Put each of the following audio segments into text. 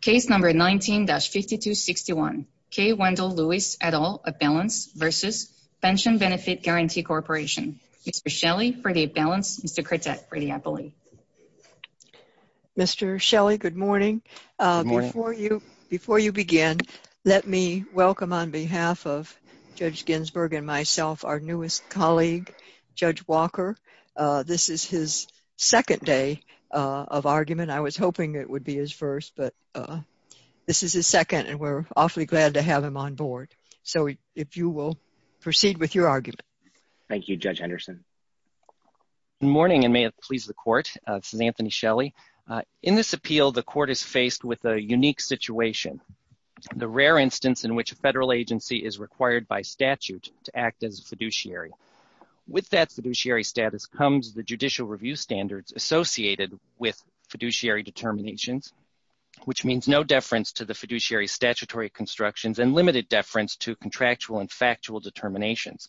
Case No. 19-5261. K. Wendell Lewis, et al., of Balance v. Pension Benefit Guarantee Corporation. Mr. Shelley for the Balance, Mr. Crittet for the Appellee. Mr. Shelley, good morning. Before you begin, let me welcome on behalf of Judge Ginsburg and myself our newest colleague, Judge Walker. This is his second day of argument. I was hoping it would be his first, but this is his second, and we're awfully glad to have him on board. So if you will proceed with your argument. Thank you, Judge Henderson. Good morning, and may it please the Court. This is Anthony Shelley. In this appeal, the Court is faced with a unique situation, the rare instance in which a federal agency is required by statute to act as a fiduciary. With that fiduciary status comes the judicial review standards associated with fiduciary determinations, which means no deference to the fiduciary statutory constructions and limited deference to contractual and factual determinations.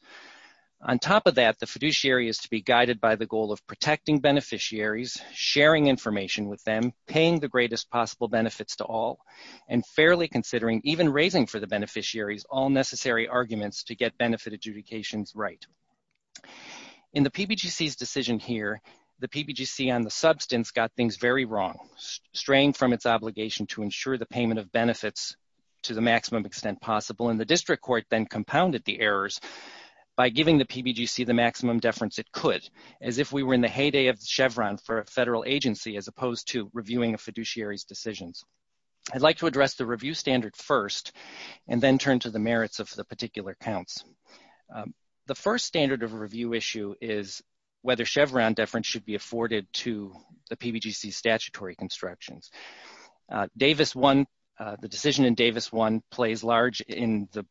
On top of that, the fiduciary is to be guided by the goal of protecting beneficiaries, sharing information with them, paying the greatest possible benefits to all, and fairly considering, even raising for the beneficiaries, all necessary arguments to get benefit adjudications right. In the PBGC's decision here, the PBGC on the substance got things very wrong, straying from its obligation to ensure the payment of benefits to the maximum extent possible, and the District Court then compounded the errors by giving the PBGC the maximum deference it could, as if we were in the heyday of Chevron for a federal agency, as opposed to reviewing a fiduciary's decisions. I'd like to address the review standard first, and then turn to the merits of the particular counts. The first standard of review issue is whether Chevron deference should be afforded to the PBGC's statutory constructions. Davis 1, the decision in Davis 1, plays large in the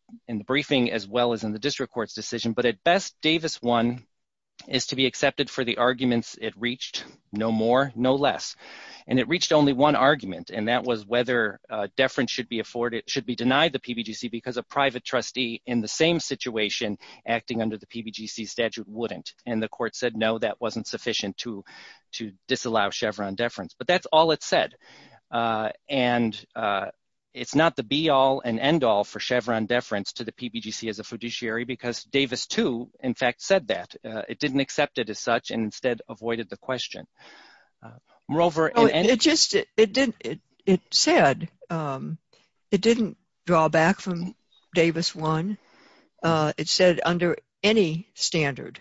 briefing as well as in the District Court's decision, but at best, Davis 1 is to be accepted for the arguments it reached, no more, no less, and it reached only one argument, and that was whether deference should be afforded, should be denied the PBGC because a private trustee in the same situation acting under the PBGC statute wouldn't, and the Court said no, that wasn't sufficient to disallow Chevron deference, but that's all it said, and it's not the be-all and end-all for Chevron deference to the PBGC as a fiduciary because Davis 2, in fact, said that. It didn't accept it as such, and instead avoided the question. Moreover, and it just, it didn't, it said, it didn't draw back from Davis 1. It said under any standard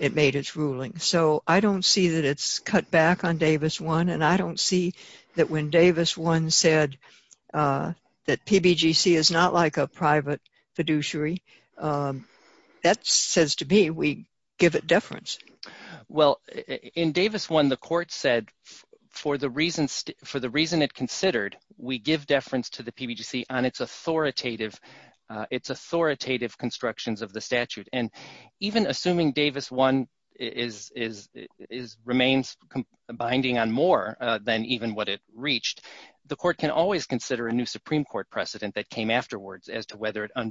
it made its ruling, so I don't see that it's cut back on Davis 1, and I don't see that when Davis 1 said that PBGC is not like a private fiduciary, that says to me we give it Well, in Davis 1, the Court said for the reasons, for the reason it considered, we give deference to the PBGC on its authoritative, its authoritative constructions of the statute, and even assuming Davis 1 is, is, is, remains binding on more than even what it reached, the Court can always consider a new Supreme Court precedent that came afterwards as to whether it and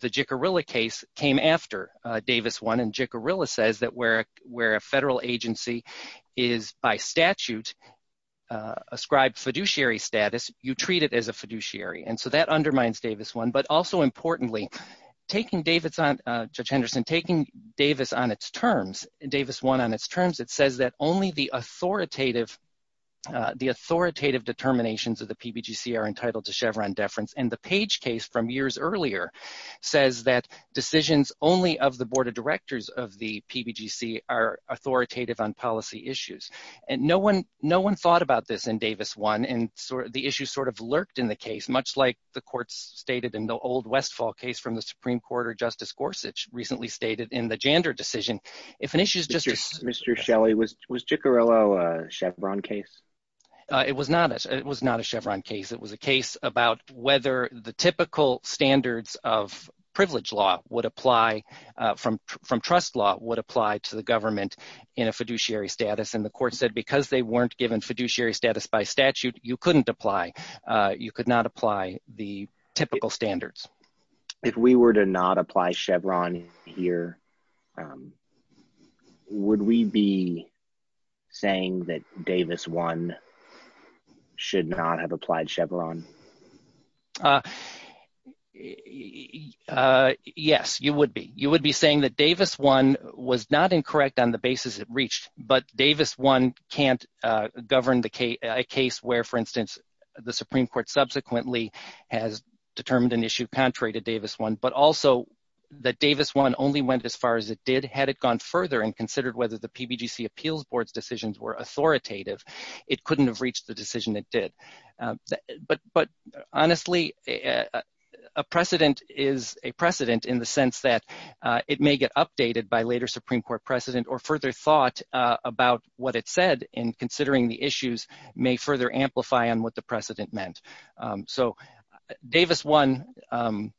the Jicarilla case came after Davis 1, and Jicarilla says that where, where a federal agency is by statute ascribed fiduciary status, you treat it as a fiduciary, and so that undermines Davis 1, but also importantly, taking Davis on, Judge Henderson, taking Davis on its terms, Davis 1 on its terms, it says that only the authoritative, the authoritative determinations of the PBGC are entitled to Chevron deference, and the Page case from years earlier says that decisions only of the Board of Directors of the PBGC are authoritative on policy issues, and no one, no one thought about this in Davis 1, and so the issue sort of lurked in the case, much like the Court's stated in the old Westfall case from the Supreme Court, or Justice Gorsuch recently stated in the Jander decision, if an issue is just, Mr. Shelley, was Jicarilla a it was not, it was not a Chevron case, it was a case about whether the typical standards of privilege law would apply from, from trust law would apply to the government in a fiduciary status, and the Court said because they weren't given fiduciary status by statute, you couldn't apply, you could not apply the typical standards. If we were to not apply Chevron here, um, would we be saying that Davis 1 should not have applied Chevron? Uh, yes, you would be. You would be saying that Davis 1 was not incorrect on the basis it reached, but Davis 1 can't govern the case, a case where, for instance, the Supreme Court subsequently has determined an issue contrary to Davis 1, but also that Davis 1 only went as far as it did, had it gone further and considered whether the PBGC Appeals Board's decisions were authoritative, it couldn't have reached the decision it did. But, but honestly, a precedent is a precedent in the sense that it may get updated by later Supreme Court precedent, or further thought about what it said in considering the issues may further amplify on what the precedent meant. So, Davis 1, um,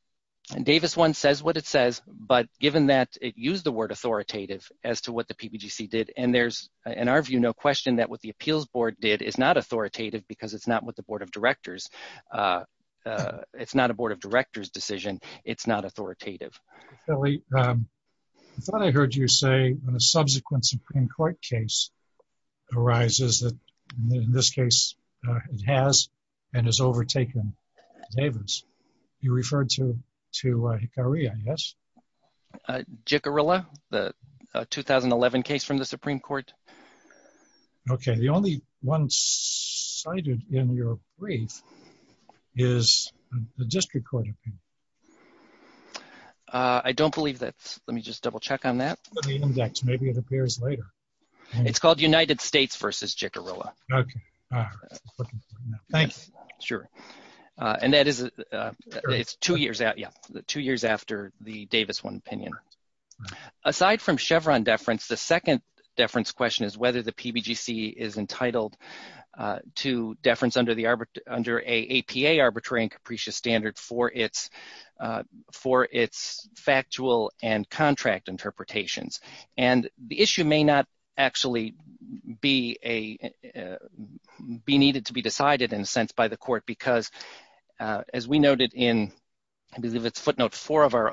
Davis 1 says what it says, but given that it used the word authoritative as to what the PBGC did, and there's, in our view, no question that what the Appeals Board did is not authoritative because it's not what the Board of Directors, uh, it's not a Board of Directors decision, it's not authoritative. Billy, um, I thought I heard you say when a subsequent Supreme Court case arises that, in this case, uh, it has and has overtaken Davis, you referred to, to, uh, Hickory, yes? Uh, Jicarilla, the 2011 case from the Supreme Court. Okay, the only one cited in your brief is the District Court opinion. Uh, I don't believe that's, let me just double check on that. For the index, maybe it appears later. It's called United States versus Jicarilla. Okay. Thank you. Sure. Uh, and that is, uh, it's two years out, yeah, two years after the Davis 1 opinion. Aside from Chevron deference, the second deference question is whether the PBGC is entitled, uh, to deference under the arbit- under a APA arbitrary and capricious standard for its, uh, for its factual and contract interpretations. And the issue may not actually be a, uh, be needed to be decided, in a sense, by the Court because, uh, as we noted in, I believe it's footnote 4 of our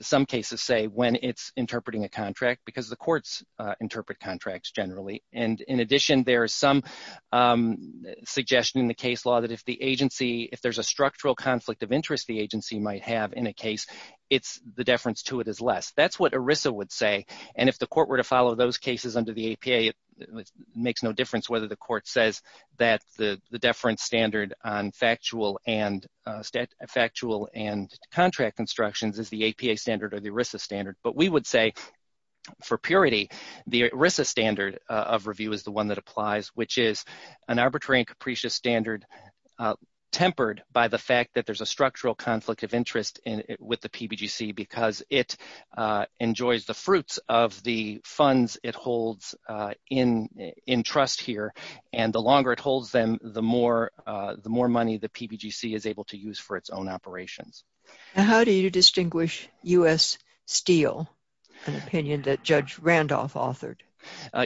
some cases say when it's interpreting a contract because the courts, uh, interpret contracts generally. And in addition, there is some, um, suggestion in the case law that if the agency, if there's a structural conflict of interest the agency might have in a case, it's the deference to it is less. That's what ERISA would say. And if the Court were to follow those cases under the APA, it makes no difference whether the Court says that the, the deference standard on factual and, uh, stat- factual and contract instructions is the APA standard or the ERISA standard. But we would say for purity the ERISA standard of review is the one that applies, which is an arbitrary and capricious standard, uh, tempered by the fact that there's a structural conflict of interest in with the PBGC because it, uh, enjoys the fruits of the funds it holds, uh, in, in trust here. And the longer it holds them, the more, uh, the more money the PBGC is able to use for its own operations. And how do you distinguish U.S. Steel, an opinion that Judge Randolph authored?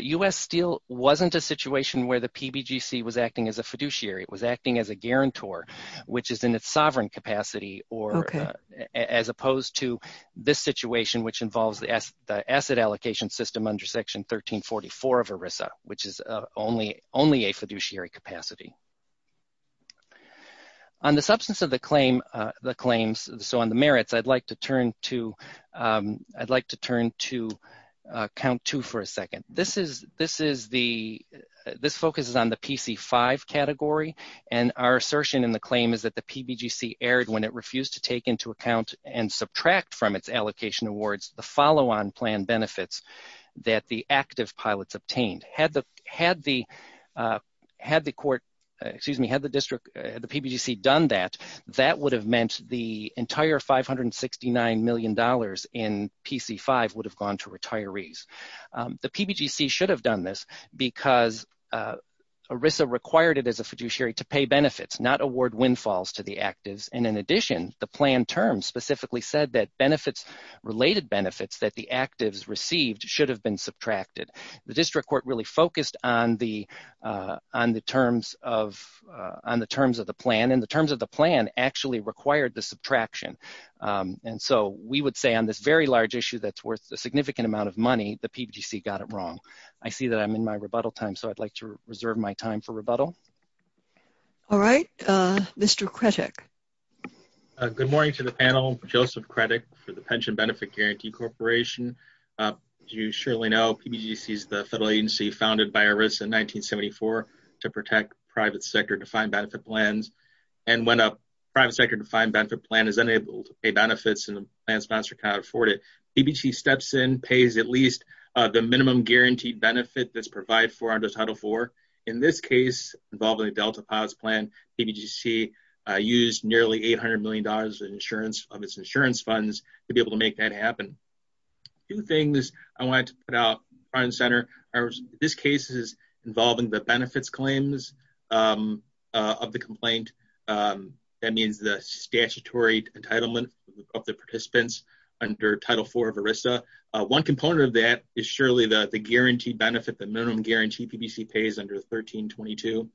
U.S. Steel wasn't a situation where the PBGC was acting as a fiduciary. It was acting as a guarantor, which is in its sovereign capacity or, uh, as opposed to this situation, which involves the asset allocation system under Section 1344 of ERISA, which is only, only a fiduciary capacity. On the substance of the claim, uh, the claims, so on the merits, I'd like to turn to, um, I'd like to turn to, uh, count two for a second. This is, this is the, this focuses on the PC-5 category. And our assertion in the claim is that the PBGC erred when it refused to take into account and subtract from its allocation awards the follow-on plan benefits that the active pilots obtained. Had the, had the, uh, had the court, excuse me, had the district, the PBGC done that, that would have meant the entire $569 million in PC-5 would have gone to retirees. The PBGC should have done this because, uh, ERISA required it as a fiduciary to pay benefits, not award windfalls to the actives. And in addition, the plan term specifically said that benefits, related benefits that the actives received should have been subtracted. The district court really focused on the, uh, on the terms of, uh, on the terms of the plan and the terms of the plan actually required the subtraction. Um, and so we would say on this very large issue that's worth a significant amount of money, the PBGC got it wrong. I see that I'm in my rebuttal time, so I'd like to reserve my time for rebuttal. All right. Uh, Mr. Kretik. Uh, good morning to the panel. Joseph Kretik for the Pension Benefit Guarantee Corporation. Uh, as you surely know, PBGC is the federal agency founded by ERISA in 1974 to protect private sector-defined benefit plans. And when a private sector-defined benefit plan is unable to pay benefits and the plan sponsor cannot afford it, PBGC steps in, pays at least, uh, the minimum guaranteed benefit that's provided for under Title IV. In this case, involving Delta POS plan, PBGC, uh, used nearly $800 million in insurance of its insurance funds to be able to make that happen. Two things I wanted to put out front and center are this case is involving the benefits claims, um, uh, of the complaint. Um, that means the statutory entitlement of the participants under Title IV of ERISA. Uh, one component of that is surely the guaranteed benefit, the minimum guarantee PBGC pays under 1322.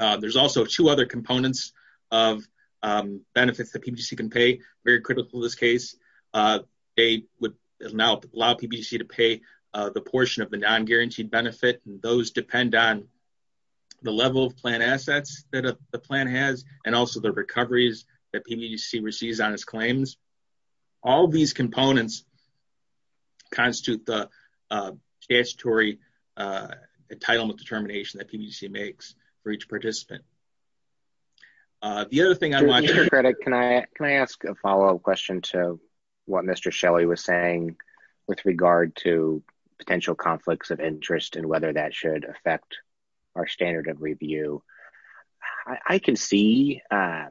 Uh, there's also two other components of, um, benefits that PBGC can pay. Very critical in this case. Uh, they would now allow PBGC to pay, uh, the portion of the non-guaranteed benefit. And those depend on the level of plan assets that the plan has and also the recoveries that PBGC receives on its claims. All of these components constitute the, uh, statutory, uh, entitlement determination that PBGC makes for each participant. Uh, the other thing I want to- Mr. Credit, can I, can I ask a follow-up question to what Mr. Shelley was saying with regard to potential conflicts of interest and whether that should affect our standard of review? I can see, um,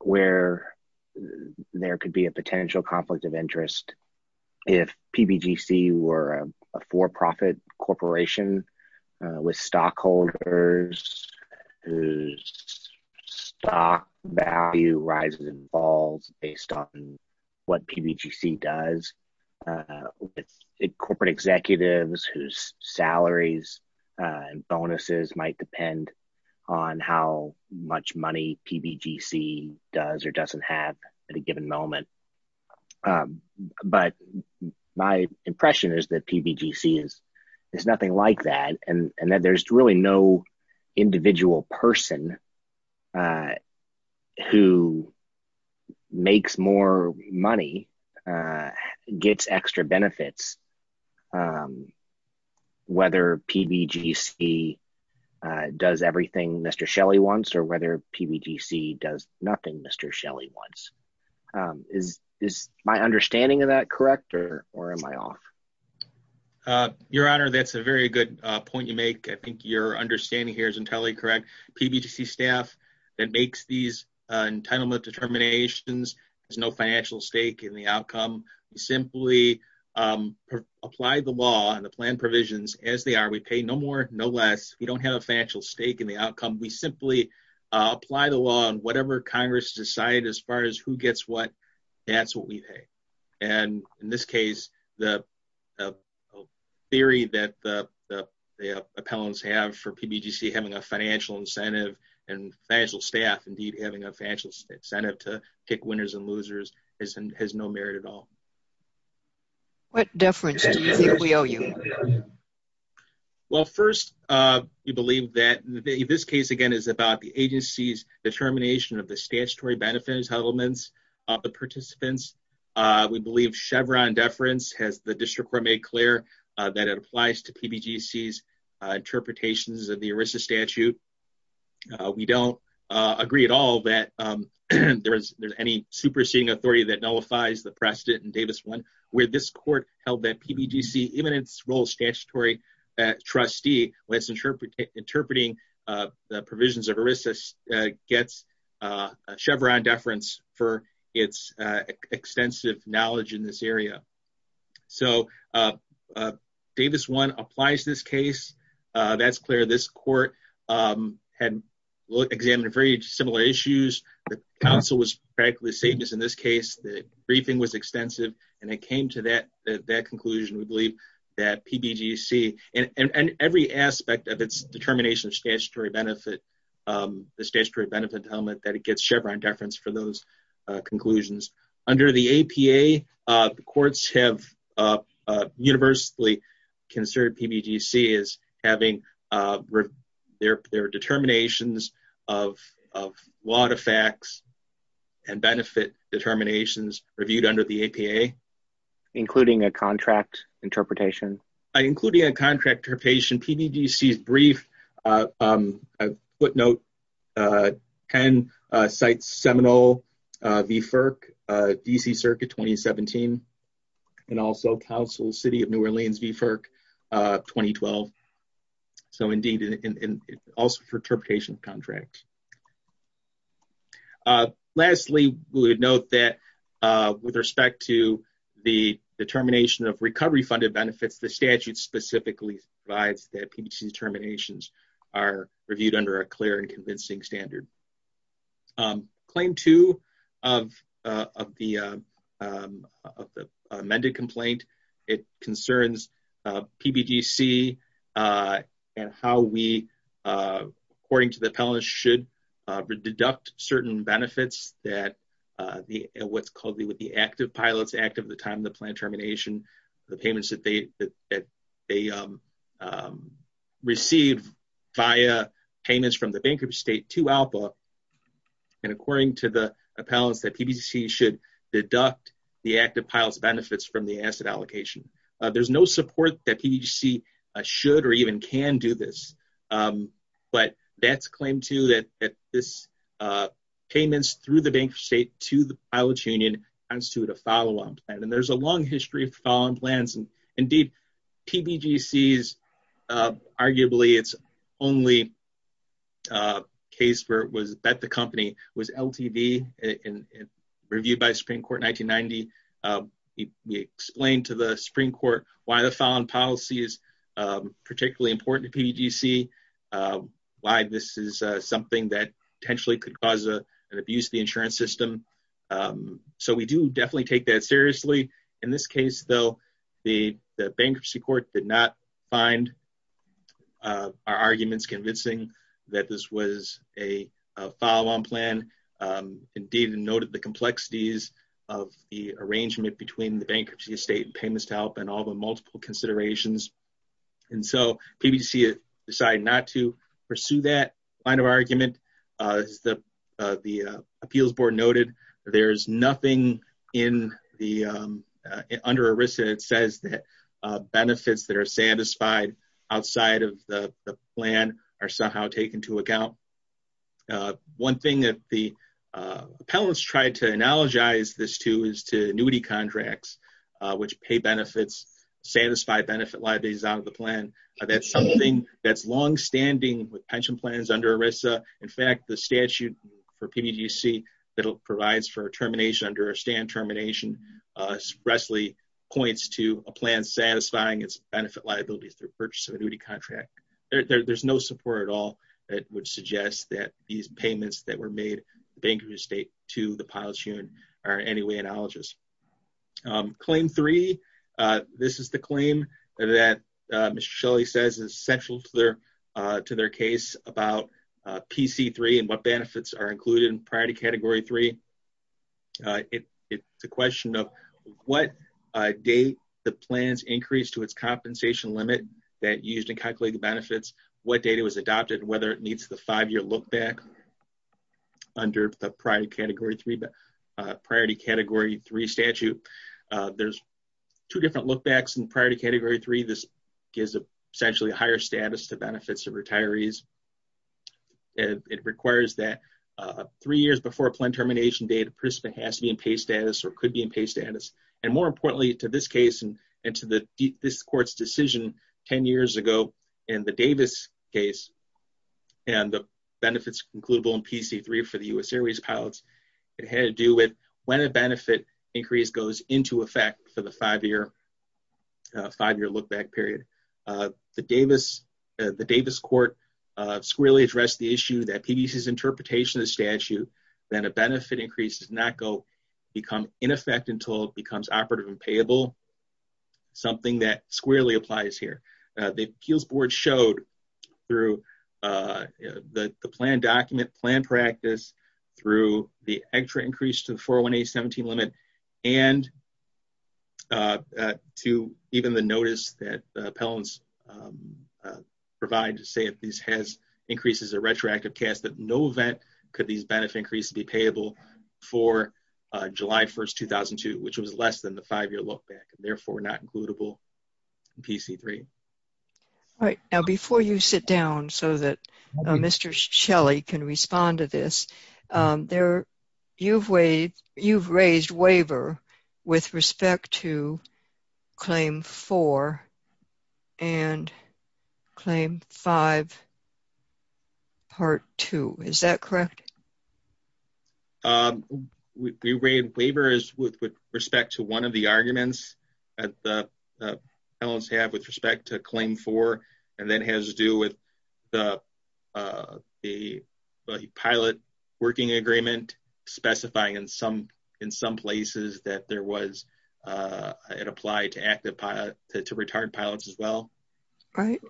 where there could be a potential conflict of interest if PBGC were a for-profit corporation, uh, with stockholders whose stock value rises and falls based on what PBGC does, uh, with corporate executives whose salaries and bonuses might depend on how much money PBGC does or doesn't have at a given moment. Um, but my impression is that PBGC is, is nothing like that and, and that there's really no individual person, uh, who makes more money, uh, gets extra benefits, um, whether PBGC, uh, does everything Mr. Shelley wants or whether PBGC does nothing Mr. Shelley wants. Um, is, is my understanding of that correct or, or am I off? Uh, your honor, that's a very good, uh, point you make. I think your understanding here is entirely correct. PBGC staff that makes these, uh, entitlement determinations, there's no financial stake in the outcome. We simply, um, apply the law and the plan provisions as they are. We pay no more, no less. We don't have a financial stake in the outcome. We simply, uh, apply the law and whatever Congress decided as far as who gets what, that's what we pay. And in this case, the, the theory that the, the, the appellants have for PBGC having a financial incentive and financial staff, indeed having a financial incentive to pick winners and losers is, has no merit at all. What deference do you think we owe you? Well, first, uh, you believe that this case again is about the agency's determination of the statutory benefits elements of the participants. Uh, we believe Chevron deference has the district court made clear, uh, that it applies to PBGC's, uh, interpretations of the ERISA statute. Uh, we don't, uh, agree at all that, um, there is, there's any superseding authority that nullifies the precedent in Davis one where this court held that PBGC, even in its role, statutory, uh, trustee, let's ensure interpreting, uh, the provisions of ERISA, uh, gets, uh, a Chevron deference for its, uh, extensive knowledge in this area. So, uh, uh, Davis one applies this case. Uh, that's clear. This court, um, had examined very similar issues. The council was practically the same as in this case, the briefing was extensive and it came to that, that conclusion. We believe that PBGC and, and every aspect of its determination of statutory benefit, um, the statutory benefit element that it gets Chevron deference for those, uh, conclusions. Under the APA, uh, the courts have, uh, uh, universally considered PBGC as having, uh, their, their determinations of, of lot of facts and benefit determinations reviewed under the APA. Including a contract interpretation? Including a contract interpretation. In PBGC's brief, uh, um, a footnote, uh, can, uh, cite Seminole, uh, VFERC, uh, DC circuit 2017, and also council city of New Orleans VFERC, uh, 2012. So indeed, and also for interpretation of contract. Uh, lastly, we would note that, uh, with respect to the determination of recovery funded benefits, the statute specifically provides that PBGC determinations are reviewed under a clear and convincing standard. Um, claim two of, uh, of the, um, uh, of the amended complaint, it concerns, uh, PBGC, uh, and how we, uh, according to the appellate should, uh, deduct certain benefits that, uh, the, what's called the, what the active pilots act of the time, the plan termination, the payments that they, that they, um, um, receive via payments from the bankruptcy state to ALPA. And according to the appellants that PBC should deduct the active pilots benefits from the asset allocation. Uh, there's no support that PBC should, or even can do this. Um, but that's claimed to that, that this, uh, payments through the bank state to the and there's a long history of following plans and indeed TBG sees, uh, arguably it's only, uh, case where it was bet. The company was LTV and reviewed by Supreme court in 1990. Uh, we explained to the Supreme court why the fallen policy is, um, particularly important to PGC, uh, why this is, uh, something that potentially could cause a, an abuse, the insurance system. Um, so we do definitely take that seriously in this case, though, the bankruptcy court did not find, uh, our arguments convincing that this was a follow-on plan. Um, indeed noted the complexities of the arrangement between the bankruptcy estate and payments to help and all the multiple considerations. And so PBC decided not to pursue that line of argument. Uh, the, uh, the appeals board noted, there's nothing in the, um, uh, under a risk. And it says that, uh, benefits that are satisfied outside of the plan are somehow taken to account. Uh, one thing that the, uh, appellants tried to analogize this to is to annuity contracts, uh, which pay benefits, satisfy benefit liabilities out of the plan. That's something that's longstanding with pension plans under a Risa. In fact, the statute for PBGC that'll provides for a termination under a stand termination, uh, Wesley points to a plan satisfying its benefit liabilities through purchase of a duty contract. There there's no support at all. That would suggest that these payments that were made the bankers estate to the pilots human are anyway, analogous, um, claim three. Uh, this is the claim that, uh, Michelle, he says is central to their, uh, to their case about, uh, PC three and what benefits are included in priority category three. Uh, it, it's a question of what, uh, date the plans increased to its compensation limit that used to calculate the benefits, what data was adopted, whether it needs the five-year look back under the prior category three, uh, priority category three statute. Uh, there's two different look backs and priority category three. This gives essentially a higher status to benefits of retirees. And it requires that, uh, three years before plan termination data, Prisma has to be in pay status or could be in pay status. And more importantly to this case and to the D this court's decision 10 years ago in the Davis case and the benefits includable in PC three for the U S airways pilots. It had to do with when a benefit increase goes into effect for the five-year, uh, five-year look back period, uh, the Davis, uh, the Davis court, uh, squarely addressed the issue that PDC is interpretation of the statute. Then a benefit increases not go become in effect until it becomes operative and payable. Something that squarely applies here. Uh, the kills board showed through, uh, the, the plan document plan practice through the extra increase to the 401, a 17 limit and, uh, uh, to even the notice that, uh, appellants, um, uh, provide to say if these has increases, a retroactive cast that no event could these benefit increase to be payable for, uh, July 1st, 2002, which was less than the five-year look back and therefore not includable PC three. All right. Now, before you sit down so that Mr. Shelley can respond to this, um, there you've weighed, you've raised waiver with respect to claim four and claim five part two. Is that correct? Um, we, we raided waivers with, with respect to one of the arguments at the, uh, I don't have with respect to claim four, and then has to do with the, uh, the pilot working agreement specifying in some, in some places that there was, uh, it applied to active pilot to retard pilots All right.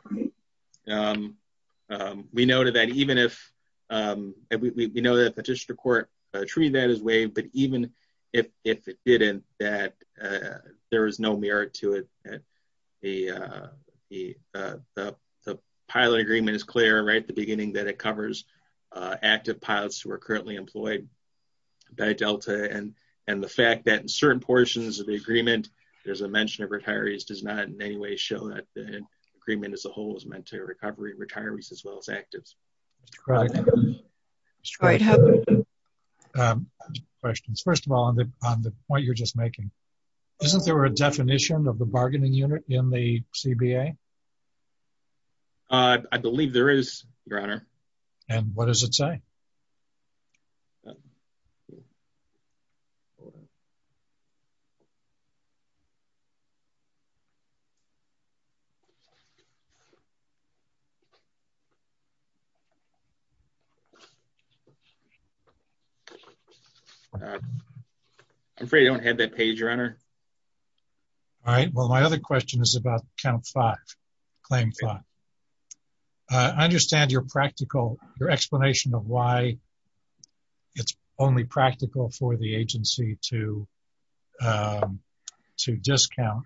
Um, um, we noted that even if, um, we know that the district court treated that as way, but even if, if it didn't, that, uh, there was no merit to it at the, uh, the, uh, the, the pilot agreement is clear, right? At the beginning that it covers, uh, active pilots who are currently employed by Delta and, and the fact that in certain portions of the agreement, there's a mention of retirees does not in any way show that the agreement as a whole is meant to recovery retirees as well as actives. Um, questions, first of all, on the, on the point you're just making, isn't there a definition of the bargaining unit in the CBA? Uh, I believe there is your honor. And what does it say? Um, I'm afraid I don't have that page your honor. All right. Well, my other question is about count five claim. Uh, I understand your practical, your explanation of why it's only practical for the agency to, um, to discount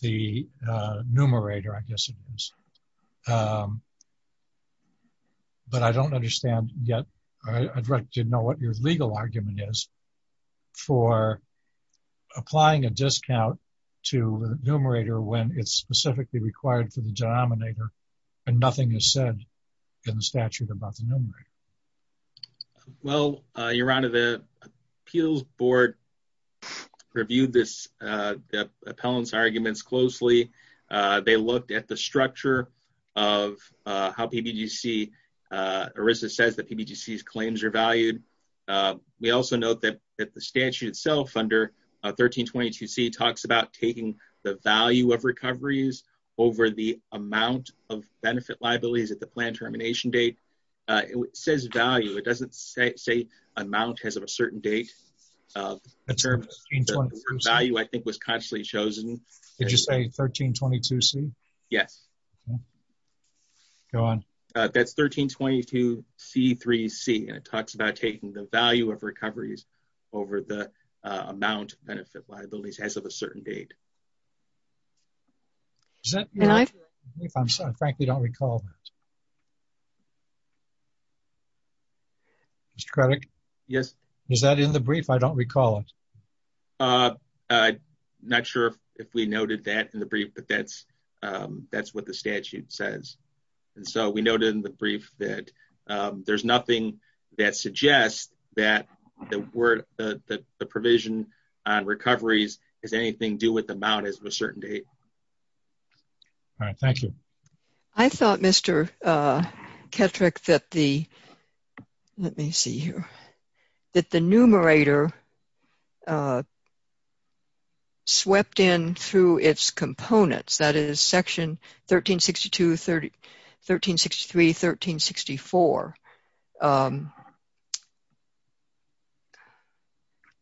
the, uh, numerator, I guess it is. Um, but I don't understand yet. I'd like to know what your legal argument is for applying a discount to numerator when it's specifically required for the denominator and nothing has said in the statute about the numerator. Okay. Well, uh, your honor, the appeals board reviewed this, uh, appellants arguments closely. Uh, they looked at the structure of, uh, how PBGC, uh, ERISA says that PBGC claims are valued. Uh, we also note that the statute itself under 1322 C talks about taking the value of recoveries over the amount of benefit liabilities at the plan termination date. Uh, it says value. It doesn't say, say amount has of a certain date, uh, value I think was consciously chosen. Did you say 1322 C? Yes. Go on. Uh, that's 1322 C three C and it talks about taking the value of recoveries over the, uh, amount benefit liabilities as of a certain date. Is that? I'm sorry. I frankly don't recall that. Mr. Craddock? Yes. Is that in the brief? I don't recall it. Uh, uh, not sure if we noted that in the brief, but that's, um, that's what the statute says. And so we noted in the brief that, um, there's nothing that suggests that the word, that the provision on recoveries is anything do with the amount as of a certain date. All right. Thank you. I thought Mr. uh, Ketrick that the, let me see here, that the numerator, uh, swept in through its components, that is section 1362, 1363, 1364. Um,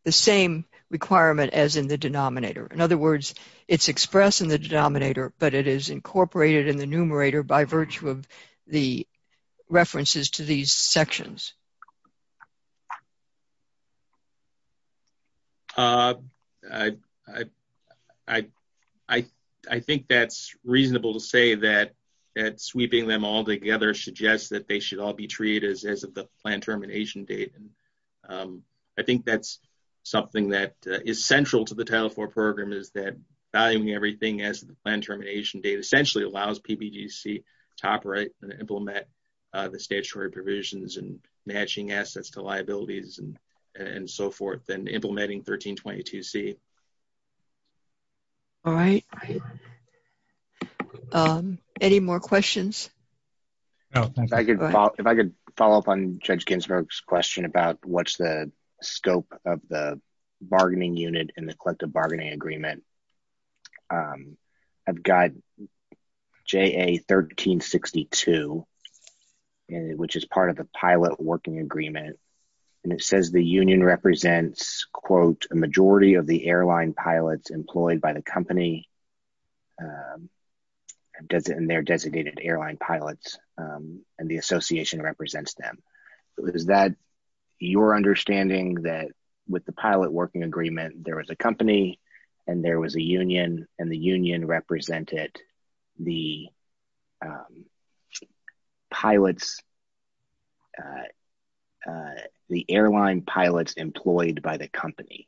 the same requirement as in the denominator. In other words, it's expressed in the denominator, but it is incorporated in the numerator by virtue of the references to these sections. Uh, I, I, I, I, I think that's reasonable to say that, that sweeping them all together suggests that they should all be treated as, as of the plan termination date. And, um, I think that's something that is central to the Title IV program is that valuing everything as the plan termination date essentially allows PBGC to operate and implement, uh, the statutory provisions and matching assets to liabilities and, and so forth and implementing 1322C. All right. Um, any more questions? No, if I could, if I could follow up on Judge Ginsburg's question about what's the scope of the bargaining unit and the collective bargaining agreement. Um, I've got JA 1362, which is part of the pilot working agreement, and it says the union represents, quote, a majority of the airline pilots employed by the company, um, and their designated airline pilots, um, and the association represents them. Is that your understanding that with the pilot working agreement, there was a company and there was a union and the union represented the, um, pilots, uh, uh, the airline pilots employed by the company?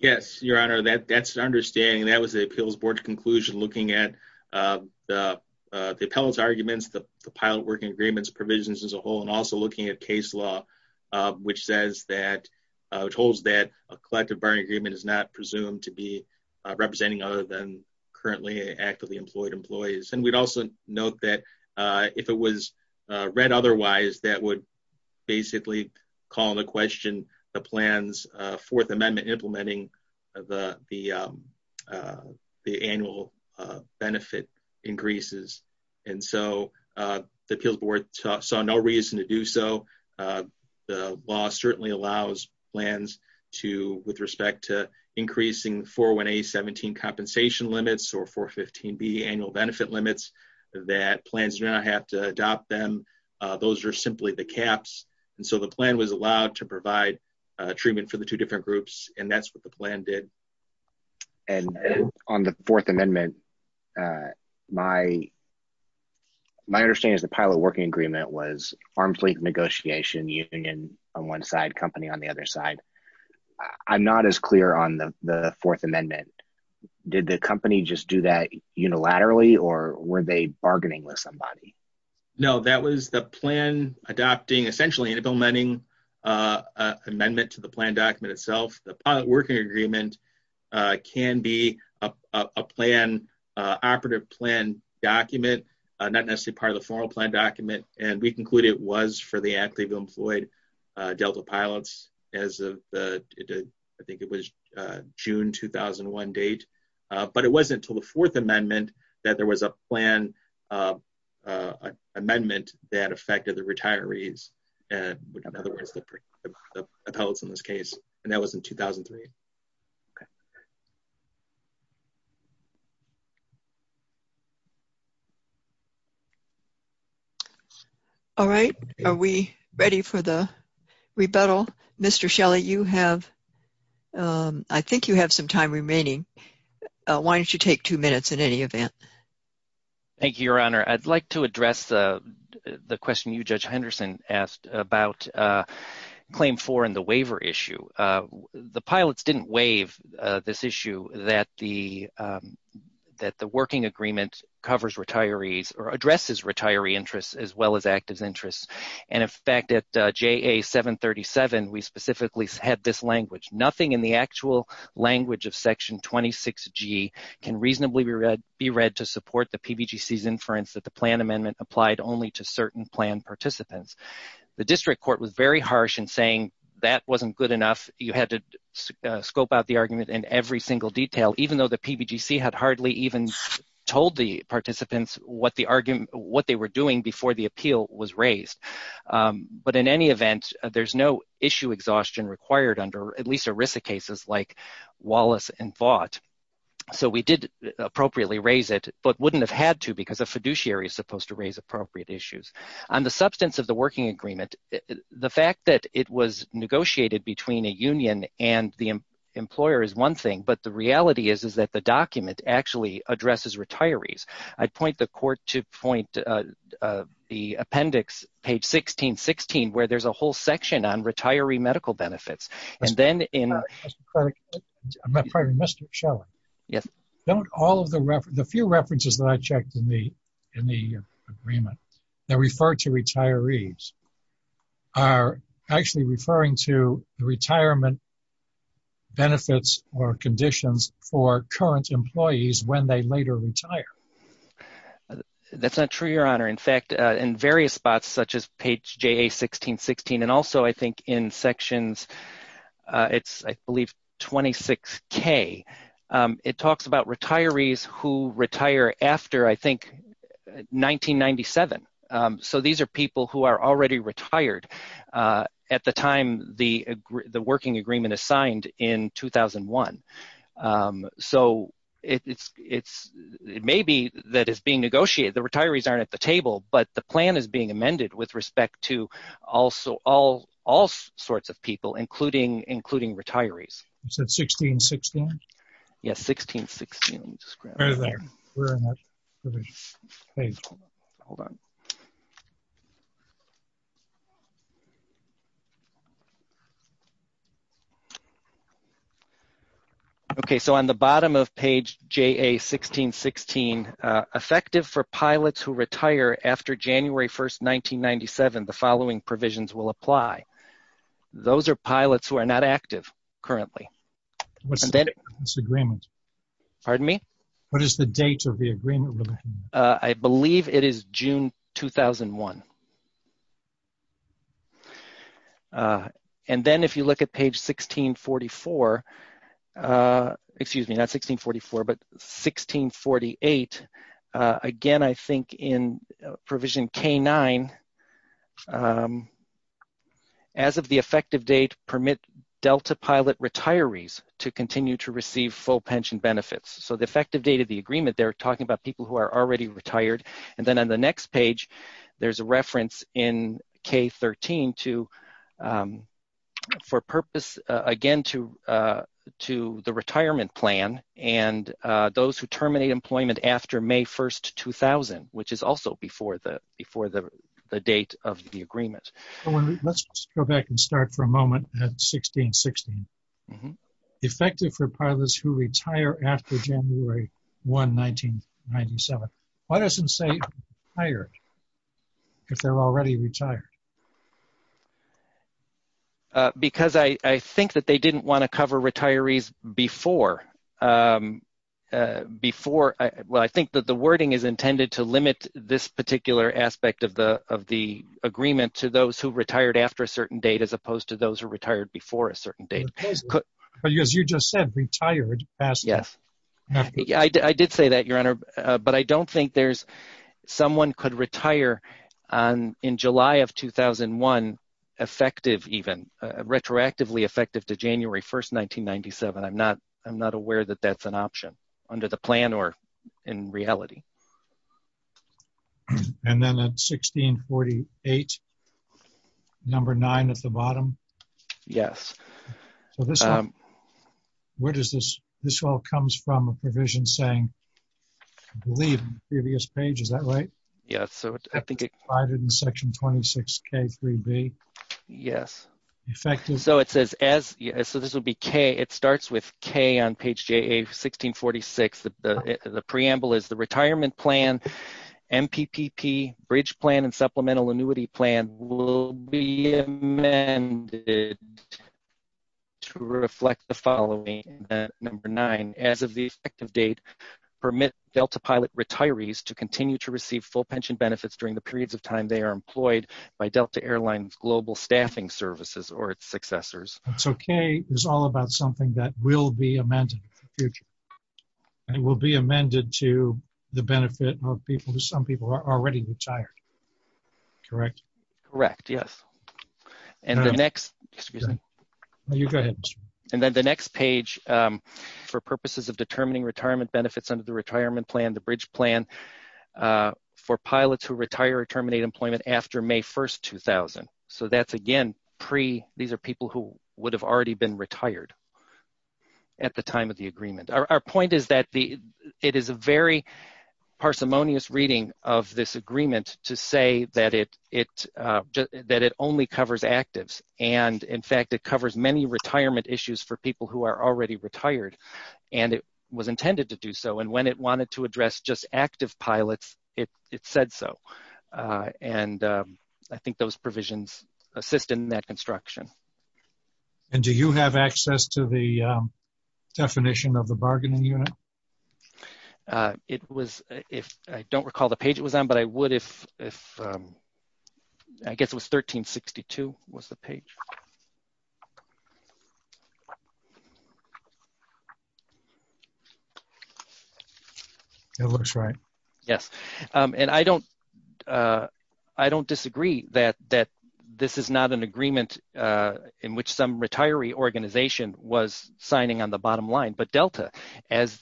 Yes, Your Honor, that, that's an understanding. That was the appeals board's conclusion looking at, um, the, uh, the appellate's arguments, the pilot working agreements provisions as a whole, and also looking at case law, um, which says that, uh, which holds that a collective bargaining agreement is not presumed to be, uh, representing other than currently actively employed employees. And we'd also note that, uh, if it was, uh, read otherwise, that would basically call into question the plans, uh, fourth amendment implementing the, the, um, uh, the annual, uh, benefit increases. And so, uh, the appeals board saw no reason to do so. Uh, the law certainly allows plans to, with respect to increasing 401A 17 compensation limits or 415B annual benefit limits that plans do not have to adopt them. Uh, those are simply the caps. And so the plan was allowed to provide a treatment for the two different groups. And that's what the plan did. And on the fourth amendment, uh, my, my understanding is the pilot working agreement was arm's length negotiation union on one side company on the other side. I'm not as clear on the, the fourth amendment. Did the company just do that unilaterally or were they bargaining with somebody? No, that was the plan adopting essentially implementing, uh, uh, amendment to the plan document itself. The pilot working agreement, uh, can be a plan, uh, operative plan document, uh, not necessarily part of the formal plan document. And we concluded it was for the act, Cleveland Floyd, uh, Delta pilots as of the, I think it was, uh, June, 2001 date. Uh, but it wasn't until the fourth amendment that there was a plan, uh, uh, amendment that affected the retirees. And in other words, the appellate's in this case, and that was in 2003. All right. Are we ready for the rebuttal? Mr. Shelley, you have, um, I think you have some time remaining. Uh, why don't you take two minutes in any event? Thank you, Your Honor. I'd like to address, uh, the question you, Judge Henderson asked about, uh, claim four and the waiver issue. Uh, the pilots didn't waive, uh, this issue that the, um, that the working agreement covered retirees or addresses retiree interests as well as active interests. And in fact, at, uh, JA 737, we specifically had this language, nothing in the actual language of section 26 G can reasonably be read, be read to support the PBGC's inference that the plan amendment applied only to certain plan participants. The district court was very harsh in saying that wasn't good enough. You had to scope out the argument in every single detail, even though the PBGC had hardly even told the participants what the argument, what they were doing before the appeal was raised. Um, but in any event, there's no issue exhaustion required under at least ERISA cases like Wallace and Vaught. So we did appropriately raise it, but wouldn't have had to because a fiduciary is supposed to raise appropriate issues on the substance of the working agreement. The fact that it was negotiated between a union and the employer is one thing, but the reality is, is that the document actually addresses retirees. I'd point the court to point, uh, uh, the appendix page 1616, where there's a whole section on retiree medical benefits. And then in Mr. Shelley, yes. Don't all of the ref, the few references that I checked in the, in the agreement that referred to retirees are actually referring to the retirement benefits or conditions for current employees when they later retire. That's not true, your honor. In fact, uh, in various spots, such as page JA 1616, and also I think in sections, uh, it's, I believe 26 K, um, it talks about retirees who retire after, I think 1997. Um, so these are people who are already retired, uh, at the time the, the working agreement assigned in 2001. Um, so it's, it's, it may be that it's being negotiated. The retirees aren't at the table, but the plan is being amended with respect to also all, all sorts of people, including, including retirees. Is that 1616? Yes. 1616. Right there. Okay. So on the bottom of page JA 1616, uh, effective for pilots who retire after January 1st, 1997, the following provisions will apply. Those are pilots who are not active currently. What's the date of this agreement? Pardon me? What is the date of the agreement? Uh, I believe it is June, 2001. Uh, and then if you look at page 1644, uh, excuse me, not 1644, but 1648, uh, again, I think in retirees to continue to receive full pension benefits. So the effective date of the agreement, they're talking about people who are already retired. And then on the next page, there's a reference in K 13 to, um, for purpose, uh, again, to, uh, to the retirement plan and, uh, those who terminate employment after May 1st, 2000, which is also before the, before the, the date of the agreement. So on the bottom of page 1644, uh, 1616, effective for pilots who retire after January 1st, 1997, why doesn't it say retired if they're already retired? Uh, because I, I think that they didn't want to cover retirees before, um, uh, before. Well, I think that the wording is intended to limit this particular aspect of the, of the agreement to those who retired after a certain date, as opposed to those who retired before a certain date, because you just said retired. Yes. I did say that your honor, but I don't think there's someone could retire on in July of 2001, effective, even, uh, retroactively effective to I'm not, I'm not aware that that's an option under the plan or in reality. And then at 1648, number nine at the bottom. Yes. So this, um, where does this, this all comes from a provision saying, I believe previous page, is that right? Yeah. So I think it provided in section 26 K three B. Yes. Effective. So it says as, so this would be K it starts with K on page J a 1646. The preamble is the retirement plan, MPPP bridge plan and supplemental annuity plan will be amended to reflect the following. Number nine, as of the effective date permit Delta pilot retirees to continue to receive full pension benefits during the periods of time they are employed by Delta airlines, global staffing services, or its successors. So K is all about something that will be amended in the future. And it will be amended to the benefit of people to some people are already retired. Correct. Correct. Yes. And the next, excuse me, and then the next page, um, for purposes of determining retirement benefits under the retirement plan, the bridge plan, uh, for pre these are people who would have already been retired at the time of the agreement. Our point is that the, it is a very parsimonious reading of this agreement to say that it, it, uh, that it only covers actives. And in fact, it covers many retirement issues for people who are already retired and it was intended to do so. And when it wanted to address just active pilots, it, it said so. Uh, and, um, I think those provisions assist in that construction. And do you have access to the, um, definition of the bargaining unit? Uh, it was, if I don't recall the page it was on, but I Yes. Um, and I don't, uh, I don't disagree that, that this is not an agreement, uh, in which some retiree organization was signing on the bottom line, but Delta as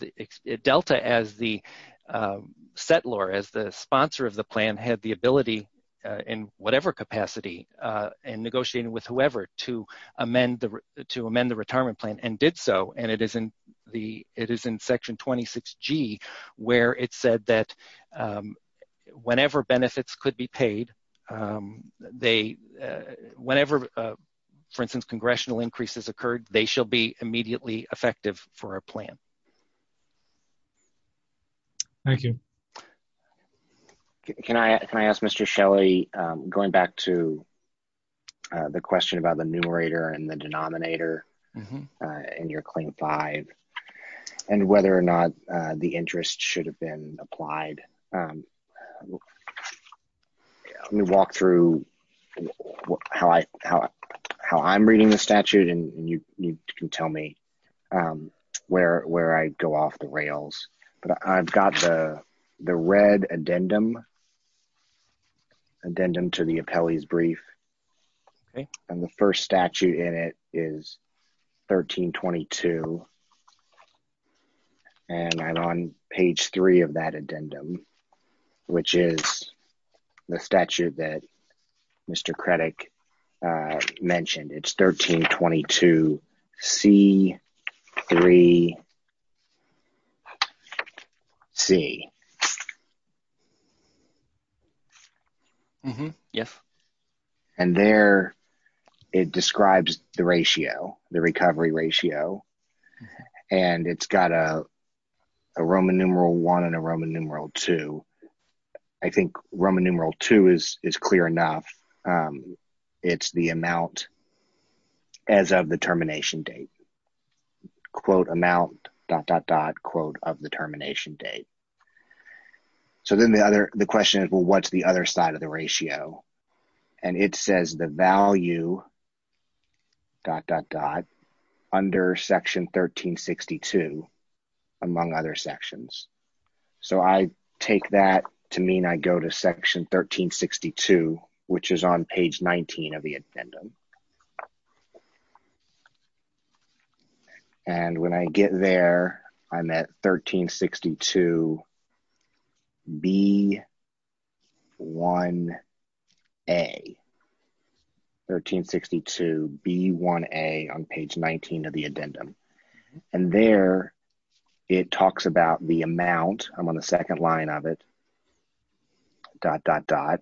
Delta, as the, um, settler, as the sponsor of the plan had the ability, uh, in whatever capacity, uh, and negotiating with whoever to amend the, to amend the retirement plan and did so. And it is in the, it is in 26 G where it said that, um, whenever benefits could be paid, um, they, uh, whenever, uh, for instance, congressional increases occurred, they shall be immediately effective for our plan. Thank you. Can I, can I ask Mr. Shelley, um, going back to the question about the numerator and the denominator, uh, and your claim five and whether or not, uh, the interest should have been applied. Um, let me walk through how I, how, how I'm reading the statute and you, you can tell me, um, where, where I go off the rails, but I've got the, the red addendum, addendum to the appellee's brief. Okay. And the first statute in it is 1322. And I'm on page three of that addendum, which is the statute that Mr. Credit, uh, it's 1322 C three C. Yes. And there it describes the ratio, the recovery ratio, and it's got a Roman numeral one and a Roman numeral two. I think Roman numeral two is, is clear enough. Um, it's the amount as of the termination date quote amount dot, dot, dot quote of the termination date. So then the other, the question is, well, what's the other side of the ratio? And it says the value dot, dot, dot under section 1362 among other sections. So I take that to mean I go to section 1362, which is on page 19 of the addendum. And when I get there, I'm at 1362 B one a 1362 B one a on page 19 of the addendum. And there it talks about the amount I'm on the second line of it dot, dot, dot,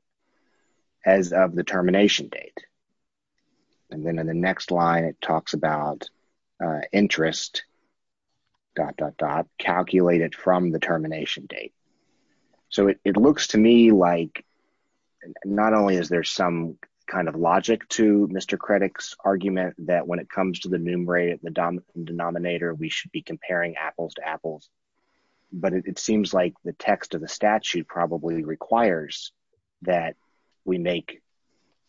as of the termination date. And then in the next line, it talks about, uh, interest dot, dot, dot calculated from the termination date. So it looks to me like, not only is there some kind of logic to Mr. Credit's argument that when it comes to the numerator, the denominator, we should be comparing apples to apples, but it seems like the text of the statute probably requires that we make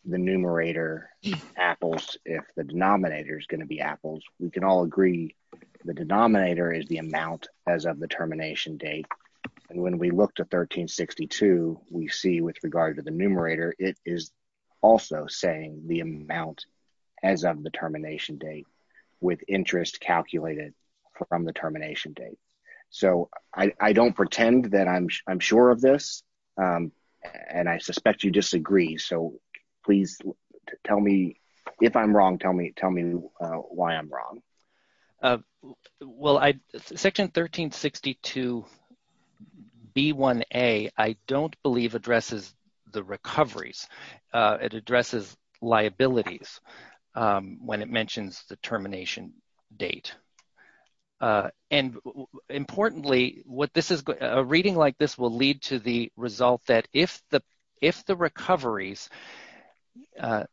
the numerator apples. If the denominator is going to be apples, we can all agree. The denominator is the amount as of the termination date. And when we looked at section 1362, we see with regard to the numerator, it is also saying the amount as of the termination date with interest calculated from the termination date. So I don't pretend that I'm, I'm sure of this. And I suspect you disagree. So please tell me if I'm wrong, tell me, tell me why I'm wrong. Uh, well, I, section 1362 B1A, I don't believe addresses the recoveries. It addresses liabilities, um, when it mentions the termination date. Uh, and importantly, what this is, a reading like this will lead to the result that if the, if the recoveries, uh,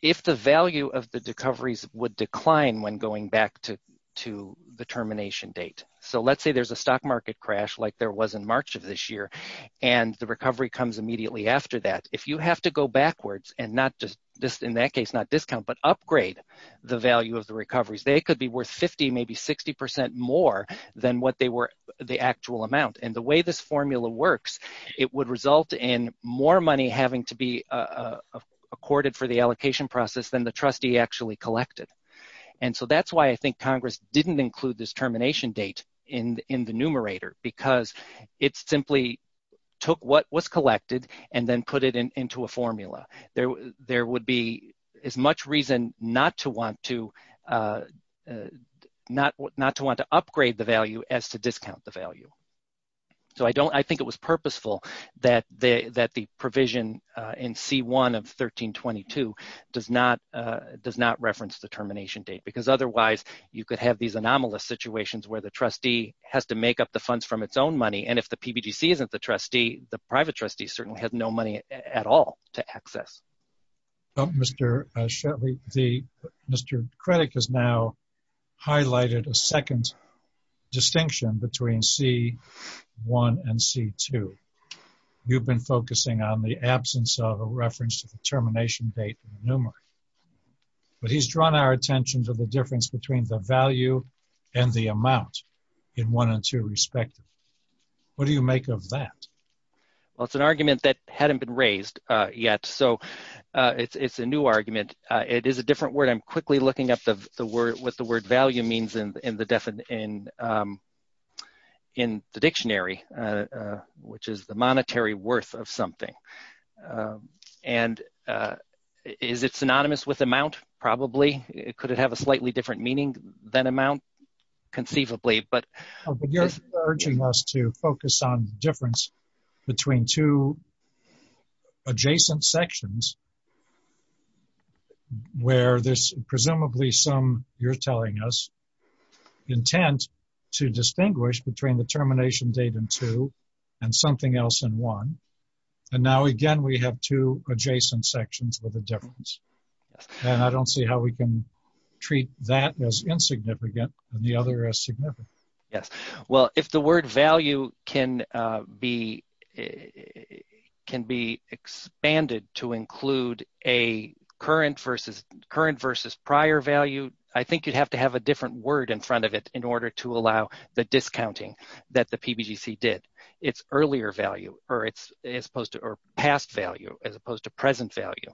if the value of the recoveries would decline when going back to, to the termination date. So let's say there's a stock market crash, like there was in March of this year. And the recovery comes immediately after that. If you have to go backwards and not just this in that case, not discount, but upgrade the value of the recoveries, they could be worth 50, maybe 60% more than what they were the actual amount. And the way this formula works, it would result in more money having to be, uh, accorded for the allocation process than the trustee actually collected. And so that's why I think Congress didn't include this termination date in, in the numerator, because it's simply took what was collected and then put it into a formula. There, there would be as much reason not to want to, uh, uh, not, not to want to upgrade the value as to discount the value. So I don't, I think it was purposeful that the, that the provision, uh, in C1 of 1322 does not, uh, does not reference the termination date because otherwise you could have these anomalous situations where the trustee has to make up the funds from its own money. And if the PBGC isn't the trustee, the private trustee certainly has no money at all to access. Oh, Mr. Shetley, the Mr. Credit has now highlighted a second distinction between C1 and C2. You've been focusing on the absence of a reference to the termination date in the numerator, but he's drawn our attention to the difference between the value and the amount in one and two respectively. What do you make of that? Well, it's an argument that hadn't been raised, uh, yet. So uh, it's, it's a new argument. Uh, it is a different word. I'm quickly looking up the, the word, what the word value means in, in the def in, um, in the dictionary, uh, uh, which is the monetary worth of something. Um, and, uh, is it synonymous with amount? Probably. Could it have a slightly different meaning than amount conceivably, but- Well, I don't see how we can treat that as insignificant and the other as significant. Yes. Well, if the word value can, uh, be, uh, can be expanded to include a current versus, current versus prior value, I think you'd have to have a different word in front of it in order to allow the discounting that the PBGC did. It's earlier value or it's as opposed to, or past value as opposed to present value.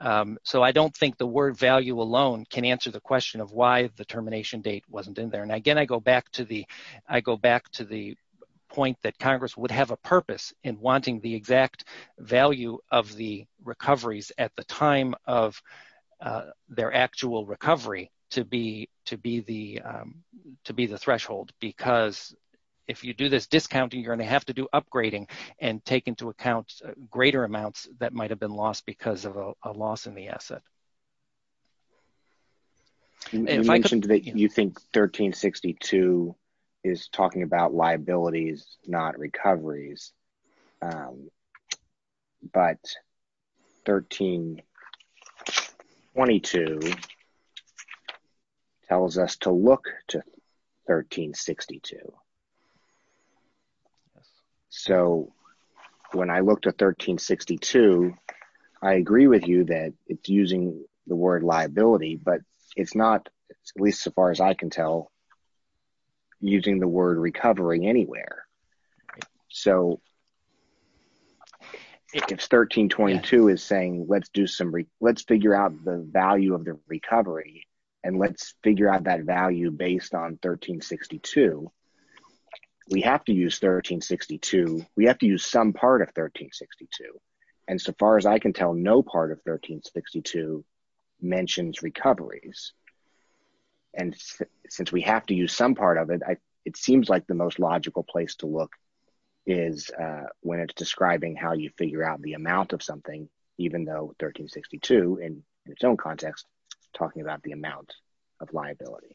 Um, so I don't think the word value alone can answer the question of why the termination date wasn't in there. And again, I go back to the, I go back to the point that Congress would have a purpose in wanting the exact value of the recoveries at the time of, uh, their actual recovery to be, to be the, um, to be the threshold. Because if you do this discounting, you're going to have to do upgrading and take into account greater amounts that might've been lost because of a loss in the asset. And you mentioned that you think 1362 is talking about liabilities, not recoveries. Um, but 1322 tells us to look to 1362. So when I looked at 1362, I agree with you that it's using the word liability, but it's not, at least so far as I can tell, using the word recovering anywhere. So if 1322 is saying, let's do some, let's figure out the value of the recovery and let's figure out that value based on 1362, we have to use 1362. We have to use some part of 1362. And so far as I can tell, no part of 1362 mentions recoveries. And since we have to use some part of it, it seems like the most logical place to look is, uh, when it's describing how you figure out the amount of something, even though 1362 in its own context, talking about the amount of liability.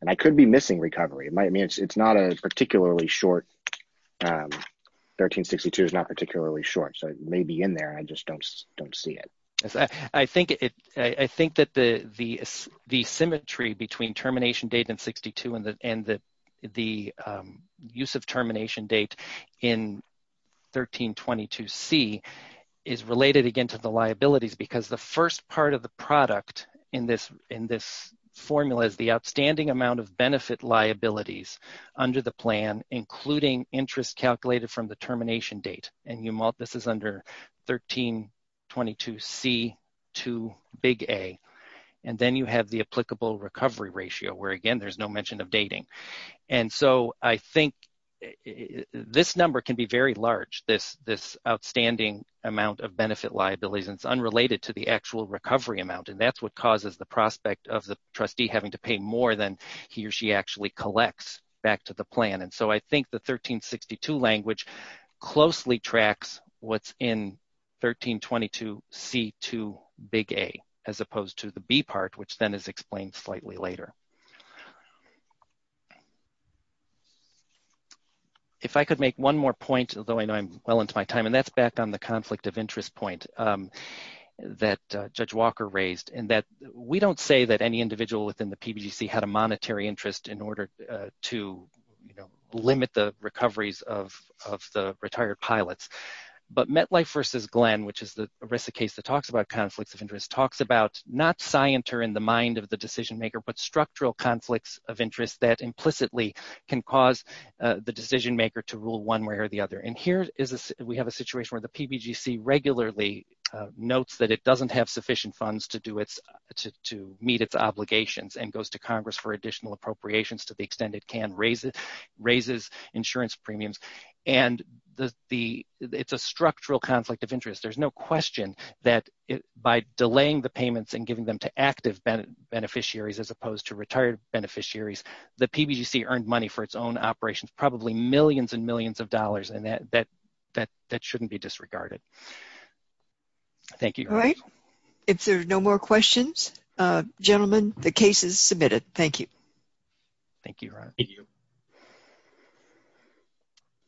And I could be missing recovery. It might mean it's, it's not a particularly short, um, 1362 is not particularly short. So it may be in there. I just don't, don't see it. I think it, I think that the, the, the symmetry between termination date and 62 and the, and the, the, um, use of termination date in 1322C is related again to the liabilities because the first part of the product in this, in this formula is the outstanding amount of benefit liabilities under the plan, including interest calculated from the termination date. And you, this is under 1322C to big A, and then you have the applicable recovery ratio, where again, there's no mention of dating. And so I think this number can be very large, this, this outstanding amount of benefit liabilities, and it's unrelated to the actual recovery amount. And that's what causes the prospect of the trustee having to pay more than he or she actually collects back to the plan. And so I think the 1362 language closely tracks what's in 1322C to big A, as opposed to the B and C. If I could make one more point, although I know I'm well into my time, and that's back on the conflict of interest point that Judge Walker raised, in that we don't say that any individual within the PBGC had a monetary interest in order to, you know, limit the recoveries of, of the retired pilots. But MetLife versus Glenn, which is the ERISA case that talks about conflicts of interest, talks about not scienter in the mind of the decision maker, but structural conflicts of interest that implicitly can cause the decision maker to rule one way or the other. And here is, we have a situation where the PBGC regularly notes that it doesn't have sufficient funds to do its, to meet its obligations and goes to Congress for additional appropriations to the extent it can raise it, raises insurance premiums. And the, the, it's a structural conflict of interest. There's no question that by delaying the payments and giving them to active beneficiaries, as opposed to retired beneficiaries, the PBGC earned money for its own operations, probably millions and millions of dollars. And that, that, that, that shouldn't be disregarded. Thank you. All right. If there are no more questions, gentlemen, the case is submitted. Thank you. Thank you.